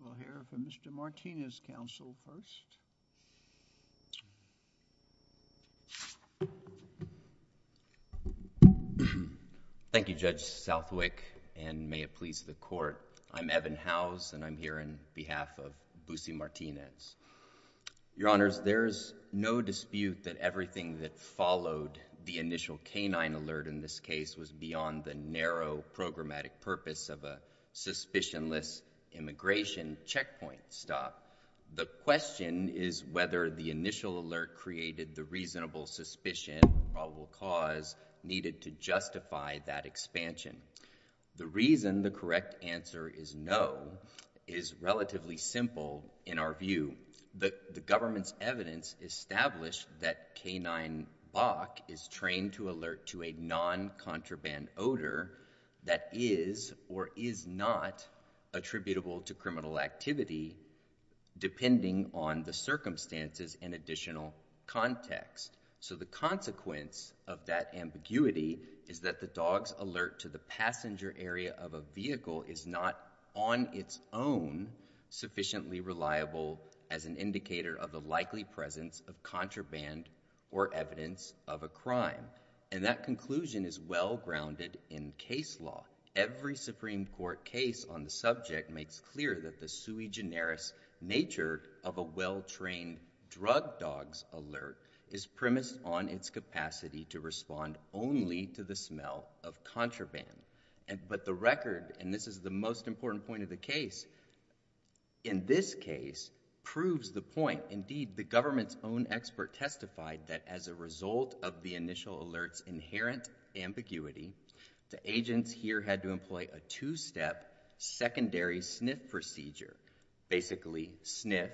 We'll hear from Mr. Martinez, counsel, first. Thank you, Judge Southwick, and may it please the Court. I'm Evan Howes, and I'm here on behalf of Busey Martinez. Your Honors, there is no dispute that everything that followed the initial K-9 alert in this stop. The question is whether the initial alert created the reasonable suspicion or probable cause needed to justify that expansion. The reason the correct answer is no is relatively simple in our view. The government's evidence established that K-9 Bach is trained to alert to a non-contraband odor that is or is not attributable to criminal activity depending on the circumstances and additional context. So the consequence of that ambiguity is that the dog's alert to the passenger area of a vehicle is not on its own sufficiently reliable as an indicator of the likely presence of contraband or evidence of a crime. And that conclusion is well-grounded in case law. Every Supreme Court case on the subject makes clear that the sui generis nature of a well-trained drug dog's alert is premised on its capacity to respond only to the smell of contraband. But the record, and this is the most important point of the case, in this case proves the point. Indeed, the government's own expert testified that as a result of the initial alert's inherent ambiguity, the agents here had to employ a two-step secondary sniff procedure, basically sniff,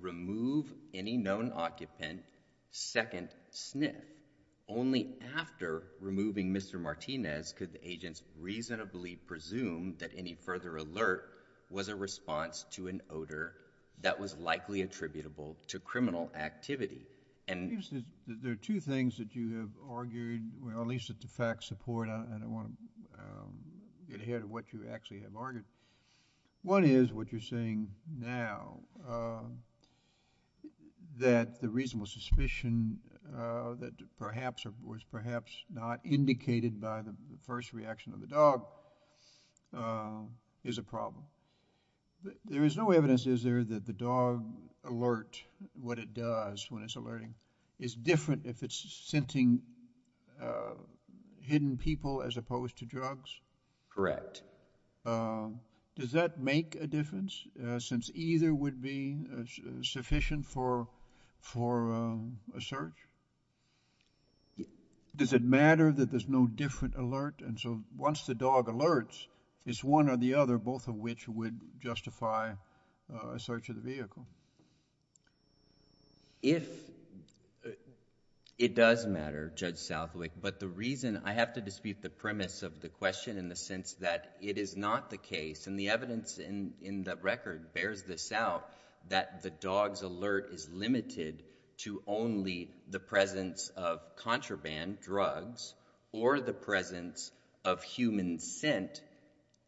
remove any known occupant, second sniff. Only after removing Mr. Martinez could the agents reasonably presume that any further alert was a response to an odor that was likely attributable to criminal activity. And There are two things that you have argued, or at least that the facts support, and I don't want to get ahead of what you actually have argued. One is what you're saying now, that the reasonable suspicion that perhaps or was perhaps not is a problem. There is no evidence, is there, that the dog alert, what it does when it's alerting, is different if it's scenting hidden people as opposed to drugs? Correct. Does that make a difference, since either would be sufficient for a search? Does it matter that there's no different alert, and so once the dog alerts, it's one or the other, both of which would justify a search of the vehicle? It does matter, Judge Southwick, but the reason I have to dispute the premise of the question in the sense that it is not the case, and the evidence in the record bears this out, that the dog's alert is limited to only the presence of contraband, drugs, or the presence of human scent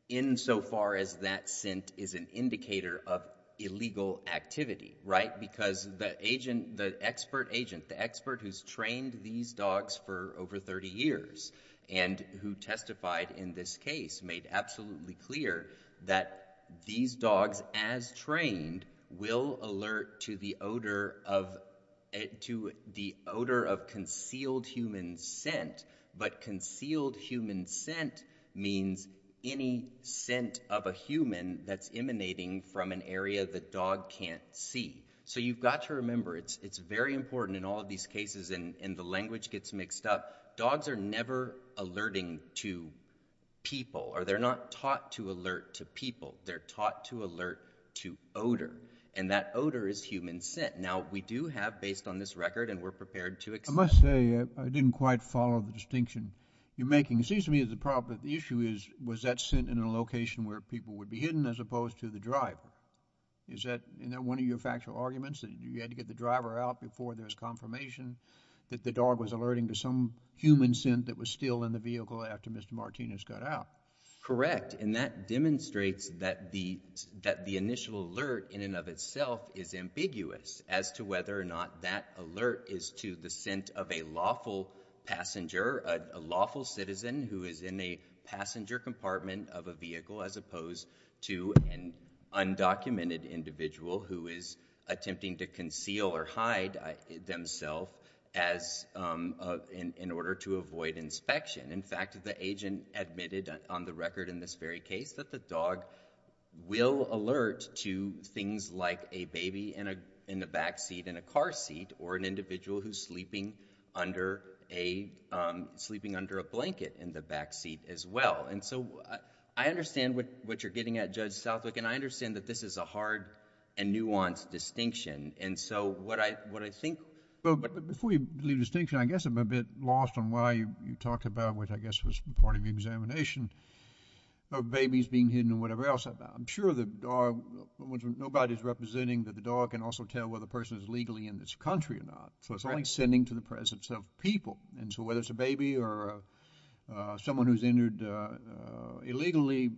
insofar as that scent is an indicator of illegal activity, right? Because the agent, the expert agent, the expert who's trained these dogs for over 30 years and who testified in this case made absolutely clear that these dogs, as trained, will alert to the odor of concealed human scent, but concealed human scent means any scent of a human that's emanating from an area the dog can't see. So you've got to remember, it's very important in all of these cases, and the language gets mixed up, dogs are never alerting to people, or they're not taught to alert to people, they're taught to alert to odor, and that odor is human scent. Now, we do have, based on this record, and we're prepared to explain. I must say, I didn't quite follow the distinction you're making. It seems to me that the problem, the issue is, was that scent in a location where people would be hidden as opposed to the driver? Is that one of your factual arguments, that you had to get the driver out before there was confirmation that the dog was alerting to some human scent that was still in the vehicle after Mr. Martinez got out? Correct, and that demonstrates that the initial alert in and of itself is ambiguous as to whether or not that alert is to the scent of a lawful passenger, a lawful citizen who is in a passenger compartment of a vehicle as opposed to an undocumented individual who is attempting to conceal or hide themself in order to avoid inspection. In fact, the agent admitted on the record in this very case that the dog will alert to things like a baby in the backseat in a car seat, or an individual who's sleeping under a blanket in the backseat as well. I understand what you're getting at, Judge Southwick, and I understand that this is a hard and nuanced distinction. What I think... Before you leave distinction, I guess I'm a bit lost on why you talked about that, which I guess was part of the examination of babies being hidden or whatever else. I'm sure the dog... nobody's representing that the dog can also tell whether a person is legally in this country or not, so it's only sending to the presence of people, and so whether it's a baby or someone who's entered illegally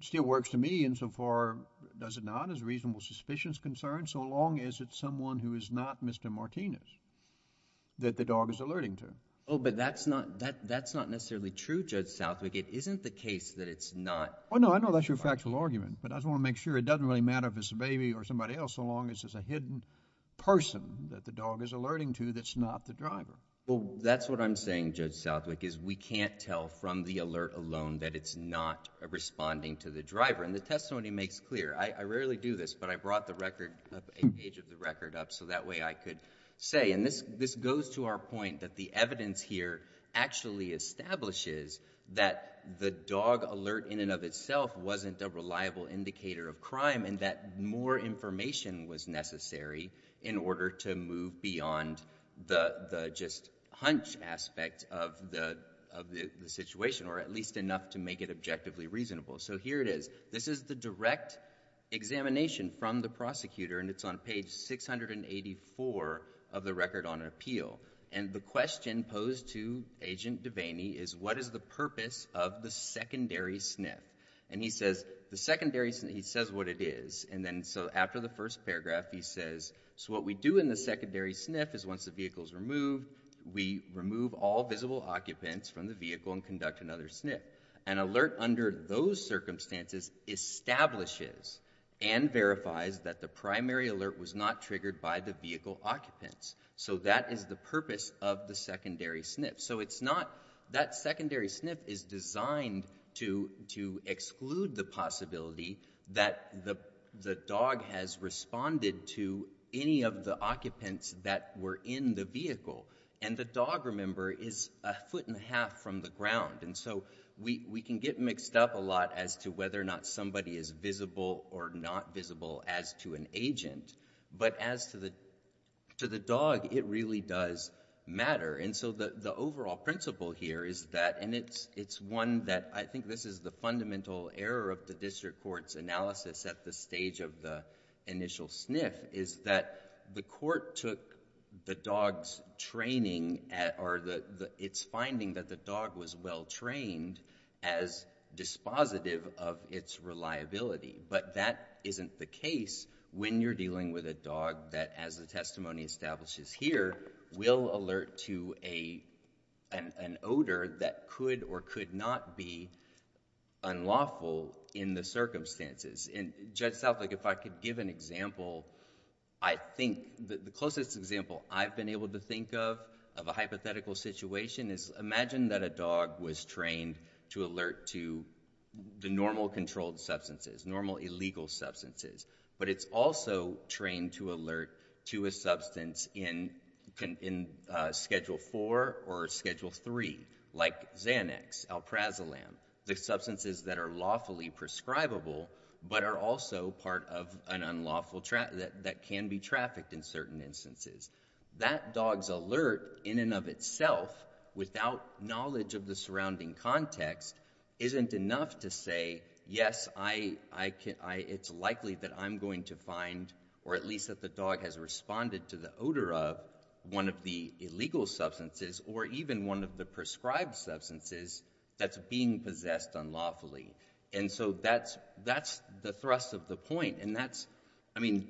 still works to me insofar does it not as a reasonable suspicions concern, so long as it's someone who is not Mr. Martinez that the dog is alerting to. Oh, but that's not necessarily true, Judge Southwick. It isn't the case that it's not... Well, no, I know that's your factual argument, but I just want to make sure it doesn't really matter if it's a baby or somebody else, so long as it's a hidden person that the dog is alerting to that's not the driver. Well, that's what I'm saying, Judge Southwick, is we can't tell from the alert alone that it's not responding to the driver, and the testimony makes clear. I rarely do this, but I brought a page of the record up so that way I could say, and this goes to our point that the evidence here actually establishes that the dog alert in and of itself wasn't a reliable indicator of crime, and that more information was necessary in order to move beyond the just hunch aspect of the situation, or at least enough to make it objectively reasonable. So here it is. This is the direct examination from the prosecutor, and it's on page 684 of the record on appeal. And the question posed to Agent Devaney is, what is the purpose of the secondary sniff? And he says, the secondary... he says what it is, and then so after the first paragraph he says, so what we do in the secondary sniff is once the vehicle is removed, we remove all visible occupants from the vehicle and conduct another sniff. An alert under those circumstances establishes and verifies that the primary alert was not triggered by the vehicle occupants. So that is the purpose of the secondary sniff. So it's not... that secondary sniff is designed to exclude the possibility that the dog has responded to any of the occupants that were in the vehicle. And the dog, remember, is a foot and a half from the ground. And so we can get mixed up a lot as to whether or not somebody is visible or not visible as to an agent. But as to the dog, it really does matter. And so the overall principle here is that, and it's one that I think this is the fundamental error of the district court's analysis at the stage of the initial sniff, is that the district court's finding that the dog was well-trained as dispositive of its reliability. But that isn't the case when you're dealing with a dog that, as the testimony establishes here, will alert to an odor that could or could not be unlawful in the circumstances. And Judge Southlake, if I could give an example, I think the closest example I've been able to think of, of a hypothetical situation, is imagine that a dog was trained to alert to the normal controlled substances, normal illegal substances. But it's also trained to alert to a substance in Schedule 4 or Schedule 3, like Xanax, Alprazolam, the substances that are lawfully prescribable but are also part of an unlawful, that can be trafficked in certain instances. That dog's alert, in and of itself, without knowledge of the surrounding context, isn't enough to say, yes, it's likely that I'm going to find, or at least that the dog has responded to the odor of, one of the illegal substances or even one of the prescribed substances that's being possessed unlawfully. And so that's the thrust of the point. And that's, I mean,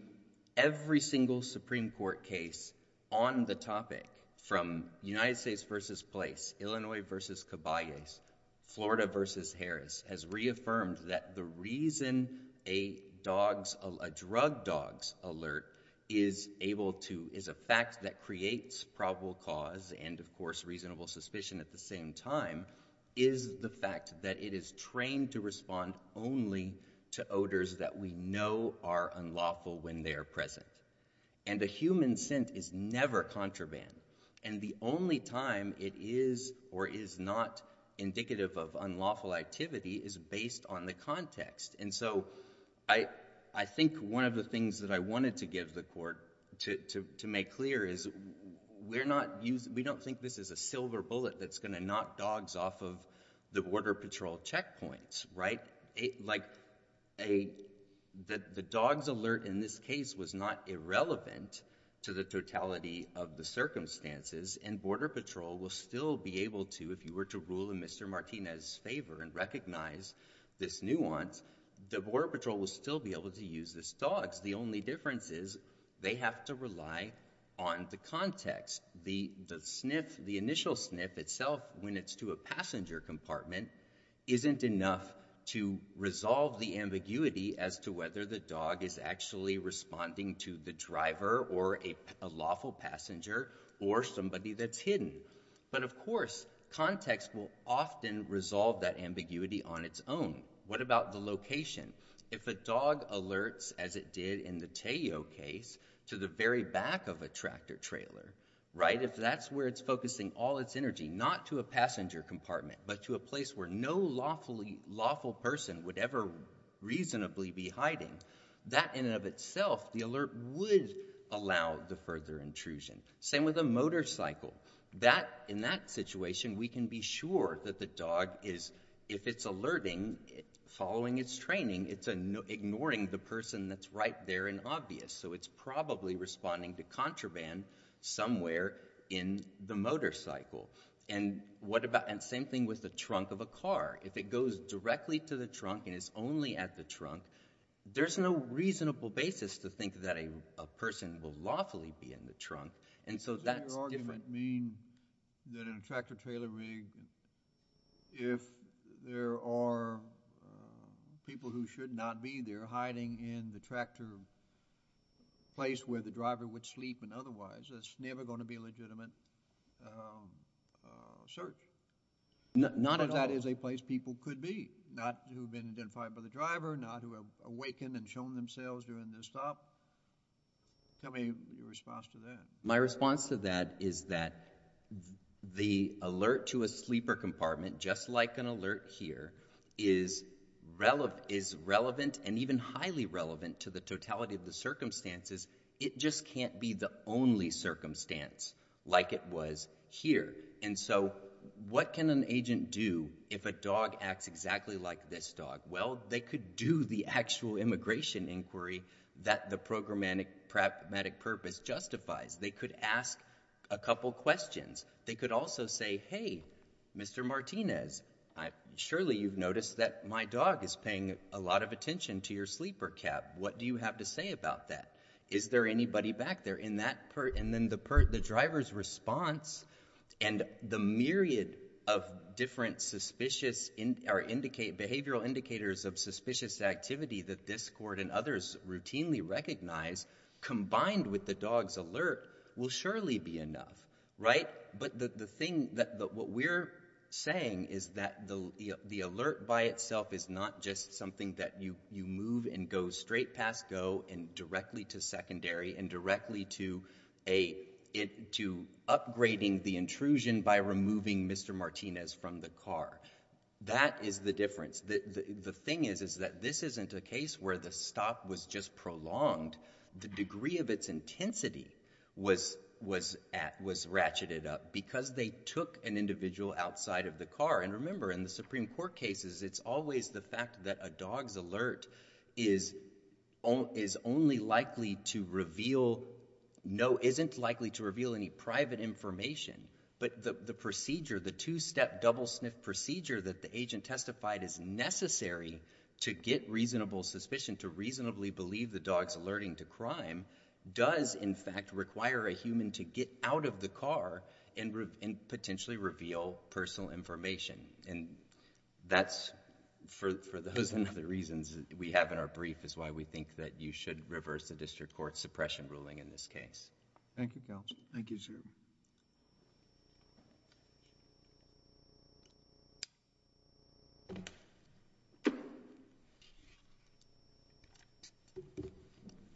every single Supreme Court case on the topic, from United States versus Place, Illinois versus Caballes, Florida versus Harris, has reaffirmed that the reason a drug dog's alert is able to, is a fact that creates probable cause and, of course, reasonable suspicion at the same time, is the fact that it is trained to respond only to odors that we know are unlawful when they are present. And a human scent is never contraband. And the only time it is or is not indicative of unlawful activity is based on the context. And so I think one of the things that I wanted to give the Court to make clear is we're not using, we don't think this is a silver bullet that's going to knock dogs off of the Border Patrol checkpoints, right? Like, the dog's alert in this case was not irrelevant to the totality of the circumstances, and Border Patrol will still be able to, if you were to rule in Mr. Martinez's favor and recognize this nuance, the Border Patrol will still be able to use this dog's. The only difference is they have to rely on the context. The sniff, the initial sniff itself, when it's to a passenger compartment, isn't enough to resolve the ambiguity as to whether the dog is actually responding to the driver or a lawful passenger or somebody that's hidden. But of course, context will often resolve that ambiguity on its own. What about the location? If a dog alerts, as it did in the Tayo case, to the very back of a tractor trailer, right, if that's where it's focusing all its energy, not to a passenger compartment, but to a place where no lawfully, lawful person would ever reasonably be hiding, that in and of itself, the alert would allow the further intrusion. Same with a motorcycle. In that situation, we can be sure that the dog is, if it's alerting, following its training, it's ignoring the person that's right there and obvious. So it's probably responding to contraband somewhere in the motorcycle. And same thing with the trunk of a car. If it goes directly to the trunk and is only at the trunk, there's no reasonable basis to think that a person will lawfully be in the trunk. And so that's different. Does that argument mean that in a tractor trailer rig, if there are people who should not be there hiding in the tractor place where the driver would sleep and otherwise, there's never going to be a legitimate search? Not if that is a place people could be. Not who have been identified by the driver, not who have awakened and shown themselves during their stop. Tell me your response to that. My response to that is that the alert to a sleeper compartment, just like an alert here, is relevant and even highly relevant to the totality of the circumstances. It just can't be the only circumstance like it was here. And so what can an agent do if a dog acts exactly like this dog? Well, they could do the actual immigration inquiry that the programmatic purpose justifies. They could ask a couple questions. They could also say, hey, Mr. Martinez, surely you've noticed that my dog is paying a lot of attention to your sleeper cab. What do you have to say about that? Is there anybody back there? And then the driver's response and the myriad of different behavioral indicators of suspicious activity that this court and others routinely recognize combined with the dog's alert will surely be enough, right? But what we're saying is that the alert by itself is not just something that you move and go straight past go and directly to secondary and directly to upgrading the intrusion by removing Mr. Martinez from the car. That is the difference. The thing is that this isn't a case where the stop was just prolonged. The degree of its intensity was ratcheted up because they took an individual outside of the car. And remember, in the Supreme Court cases, it's always the fact that a dog's alert is only likely to reveal, no, isn't likely to reveal any private information. But the procedure, the two-step double-sniff procedure that the agent testified is necessary to get reasonable suspicion, to reasonably believe the dog's alerting to crime, does in fact require a human to get out of the car and potentially reveal personal information. And that's, for those and other reasons we have in our brief, is why we think that you should reverse the district court suppression ruling in this case. Thank you, counsel. Thank you, sir.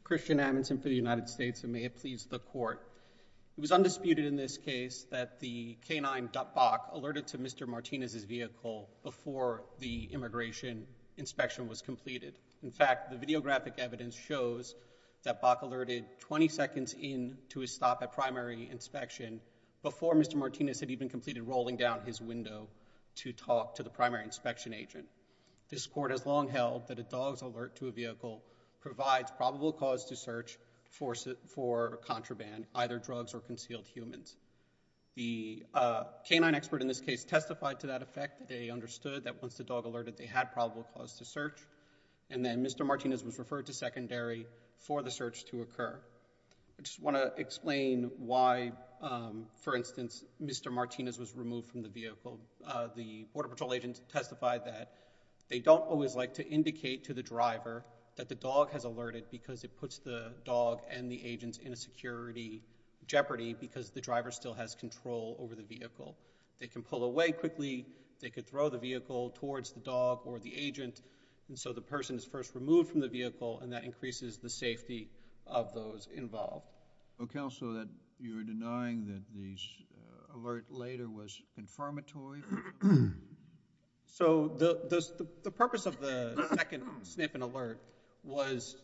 Christian Adamson for the United States, and may it please the Court. It was undisputed in this case that the canine duck buck alerted to Mr. Martinez's vehicle before the immigration inspection was completed. In fact, the videographic evidence shows that buck alerted 20 seconds into his stop at primary inspection before Mr. Martinez had even completed rolling down his window to talk to the primary inspection agent. This court has long held that a dog's alert to a vehicle provides probable cause to search for contraband, either drugs or concealed humans. The canine expert in this case testified to that effect. They understood that once the dog alerted, they had probable cause to search. And then Mr. Martinez was referred to secondary for the search to occur. I just want to explain why, for instance, Mr. Martinez was removed from the vehicle. The Border Patrol agent testified that they don't always like to indicate to the driver that the dog has alerted because it puts the dog and the agents in a security jeopardy because the driver still has control over the vehicle. They can pull away quickly. They could throw the vehicle towards the dog or the agent, and so the person is first removed from the vehicle, and that increases the safety of those involved. Counsel, you're denying that the alert later was confirmatory? So the purpose of the second snip and alert was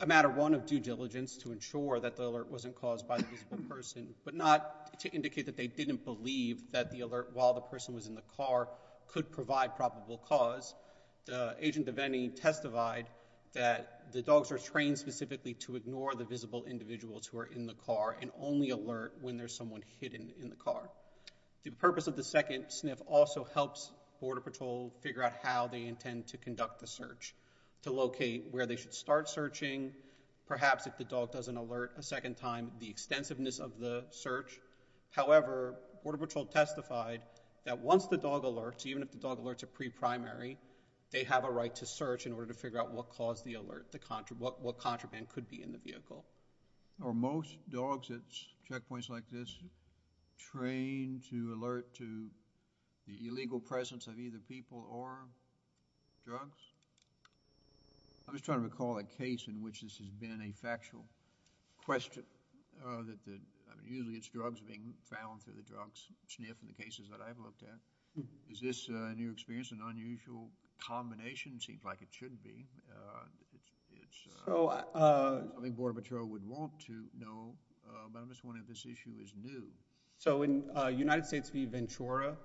a matter, one, of due diligence to ensure that the alert wasn't caused by the person, but not to indicate that they didn't believe that the alert while the person was in the car could provide probable cause. Agent Devenney testified that the dogs are trained specifically to ignore the visible individuals who are in the car and only alert when there's someone hidden in the car. The purpose of the second sniff also helps Border Patrol figure out how they intend to conduct the search, to locate where they should start searching, perhaps if the dog doesn't alert a second time, the extensiveness of the search. However, Border Patrol testified that once the dog alerts, even if the dog alerts are pre-primary, they have a right to search in order to figure out what caused the alert, what contraband could be in the vehicle. Are most dogs at checkpoints like this trained to alert to the illegal presence of either people or drugs? I'm just trying to recall a case in which this has been a factual question. Usually it's drugs being found through the drug sniff in the cases that I've looked at. Is this a new experience, an unusual combination? It seems like it should be. I think Border Patrol would want to know, but I'm just wondering if this issue is new. So in United States v. Ventura,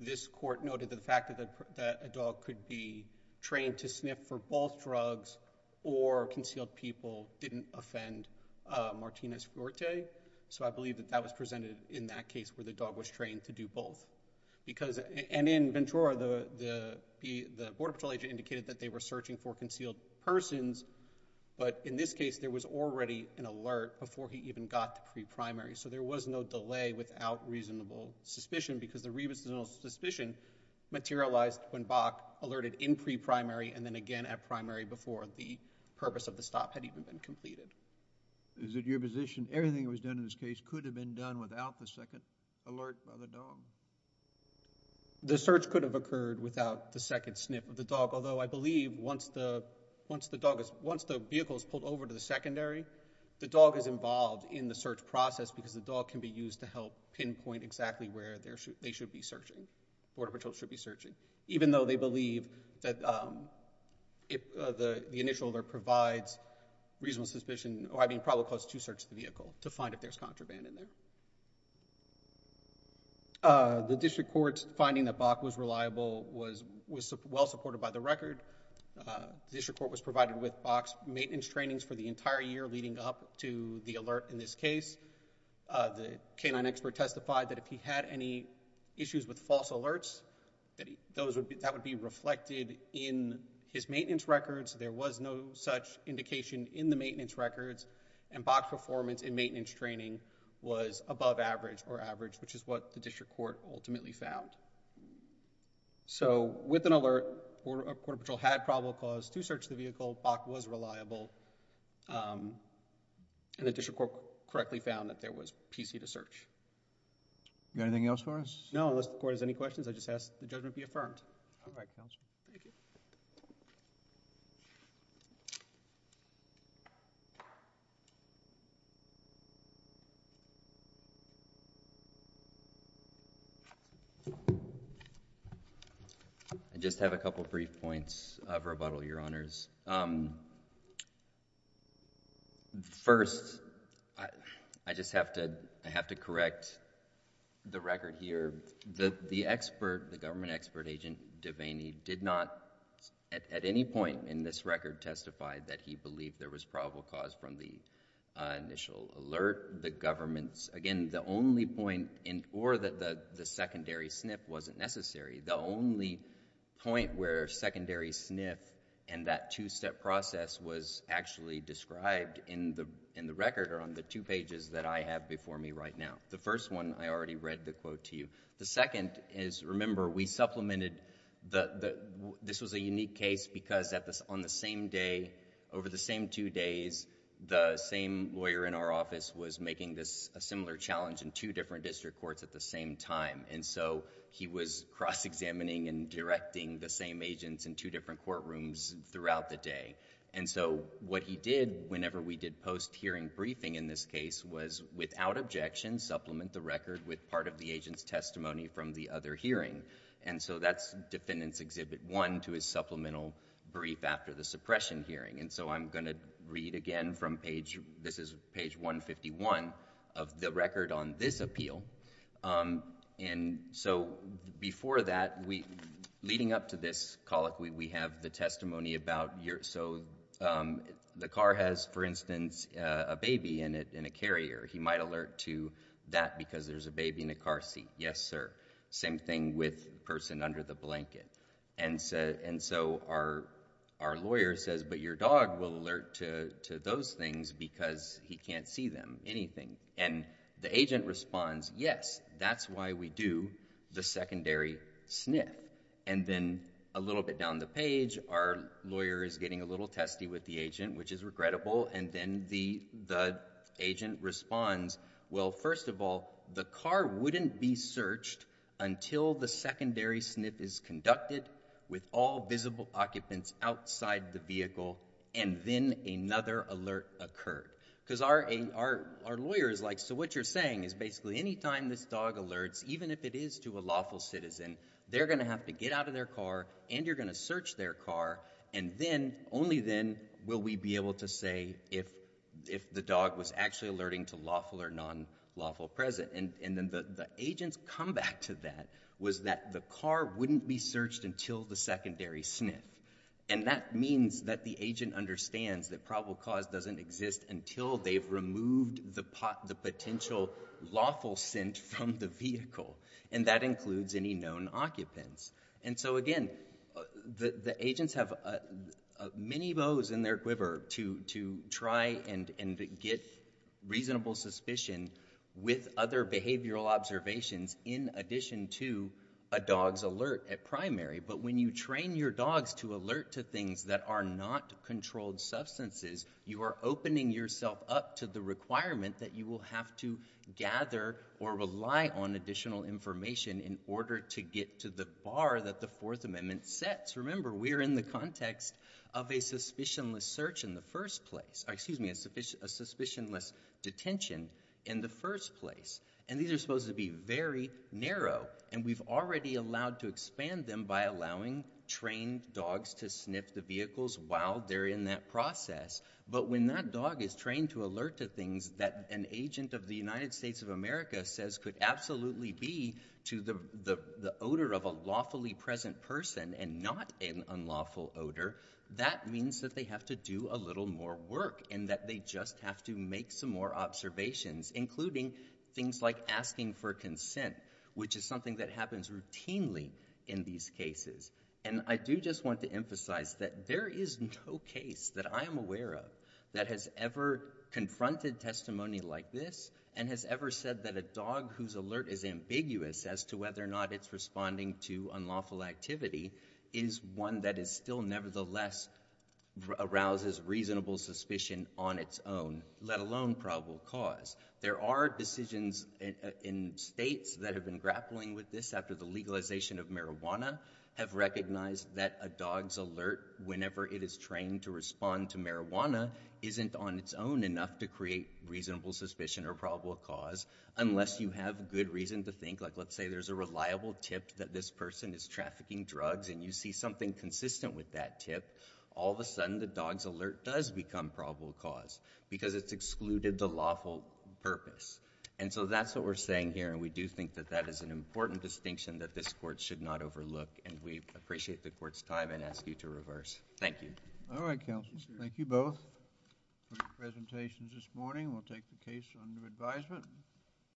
this court noted that the fact that a dog could be trained to sniff for both drugs or concealed people didn't offend Martinez-Fuerte. So I believe that that was presented in that case where the dog was trained to do both because, and in Ventura, the Border Patrol agent indicated that they were searching for concealed persons, but in this case there was already an alert before he even got to pre-primary. So there was no delay without reasonable suspicion because the reasonable suspicion materialized when Bach alerted in pre-primary and then again at primary before the purpose of the stop had even been completed. Is it your position everything that was done in this case could have been done without the second alert by the dog? The search could have occurred without the second sniff of the dog, although I believe once the vehicle is pulled over to the secondary, the dog is involved in the search process because the dog can be used to help pinpoint exactly where they should be searching, Border Patrol should be searching, even though they believe that the initial alert provides reasonable suspicion, or I mean probably cause to search the vehicle to find if there's contraband in there. The district court's finding that Bach was reliable was well supported by the record. The district court was provided with Bach's maintenance trainings for the entire year leading up to the alert in this case. The canine expert testified that if he had any issues with false alerts, that would be reflected in his maintenance records. There was no such indication in the maintenance records and Bach's performance in maintenance training was above average or average, which is what the district court ultimately found. So with an alert, Border Patrol had probable cause to search the vehicle, Bach was reliable, and the district court correctly found that there was PC to search. You got anything else for us? No, unless the court has any questions, I just ask the judgment be affirmed. All right, counsel. Thank you. I just have a couple of brief points of rebuttal, Your Honors. First, I just have to correct the record here. The expert, the government expert agent Devaney did not at any point in this record testify that he believed there was probable cause from the initial alert. The government's, again, the only point, or that the secondary SNF wasn't necessary. The only point where secondary SNF and that two-step process was actually described in the record or on the two pages that I have before me right now. The first one, I already read the quote to you. The second is, remember, we supplemented, this was a unique case because on the same day over the same two days, the same lawyer in our office was making this a similar challenge in two different district courts at the same time, and so, he was cross-examining and directing the same agents in two different courtrooms throughout the day. And so, what he did whenever we did post-hearing briefing in this case was, without objection, supplement the record with part of the agent's testimony from the other hearing. And so, that's Defendant's Exhibit 1 to his supplemental brief after the suppression hearing. And so, I'm going to read again from page, this is page 151 of the record on this appeal. And so, before that, we, leading up to this colloquy, we have the testimony about your, so the car has, for instance, a baby in it, in a carrier. He might alert to that because there's a baby in the car seat. Yes, sir. Same thing with person under the blanket. And so, our lawyer says, but your dog will alert to those things because he can't see them, anything. And the agent responds, yes, that's why we do the secondary sniff. And then, a little bit down the page, our lawyer is getting a little testy with the agent, which is regrettable. And then, the agent responds, well, first of all, the car wouldn't be searched until the secondary sniff is conducted with all visible occupants outside the vehicle. And then, another alert occurred. Because our lawyer is like, so what you're saying is basically, anytime this dog alerts, even if it is to a lawful citizen, they're going to have to get out of their car and you're going to search their car. And then, only then, will we be able to say if the dog was actually alerting to lawful or non-lawful present. And then, the agent's comeback to that was that the car wouldn't be searched until the secondary sniff. And that means that the agent understands that probable cause doesn't exist until they've removed the potential lawful scent from the vehicle. And that includes any known occupants. And so, again, the agents have many bows in their quiver to try and get reasonable suspicion with other behavioral observations in addition to a dog's alert at primary. But when you train your dogs to alert to things that are not controlled substances, you are opening yourself up to the requirement that you will have to gather or rely on additional information in order to get to the bar that the Fourth Amendment sets. Remember, we're in the context of a suspicionless search in the first place. Excuse me, a suspicionless detention in the first place. And these are supposed to be very narrow. And we've already allowed to expand them by allowing trained dogs to sniff the vehicles while they're in that process. But when that dog is trained to alert to things that an agent of the United States of America says could absolutely be to the odor of a lawfully present person and not an unlawful odor, that means that they have to do a little more work and that they just have to make some more observations, including things like asking for consent, which is something that happens routinely in these cases. And I do just want to emphasize that there is no case that I am aware of that has ever confronted testimony like this and has ever said that a dog whose alert is ambiguous as to whether or not it's responding to unlawful activity is one that is still nevertheless arouses reasonable suspicion on its own, let alone probable cause. There are decisions in states that have been grappling with this after the legalization of marijuana have recognized that a dog's alert whenever it is trained to respond to marijuana isn't on its own enough to create reasonable suspicion or probable cause unless you have good reason to think. Like, let's say there's a reliable tip that this person is trafficking drugs and you see something consistent with that tip. All of a sudden, the dog's alert does become probable cause because it's excluded the lawful purpose. And so that's what we're saying here, and we do think that that is an important distinction that this court should not overlook, and we appreciate the court's time and ask you to reverse. Thank you. All right, counsels, thank you both for your presentations this morning. We'll take the case under advisement.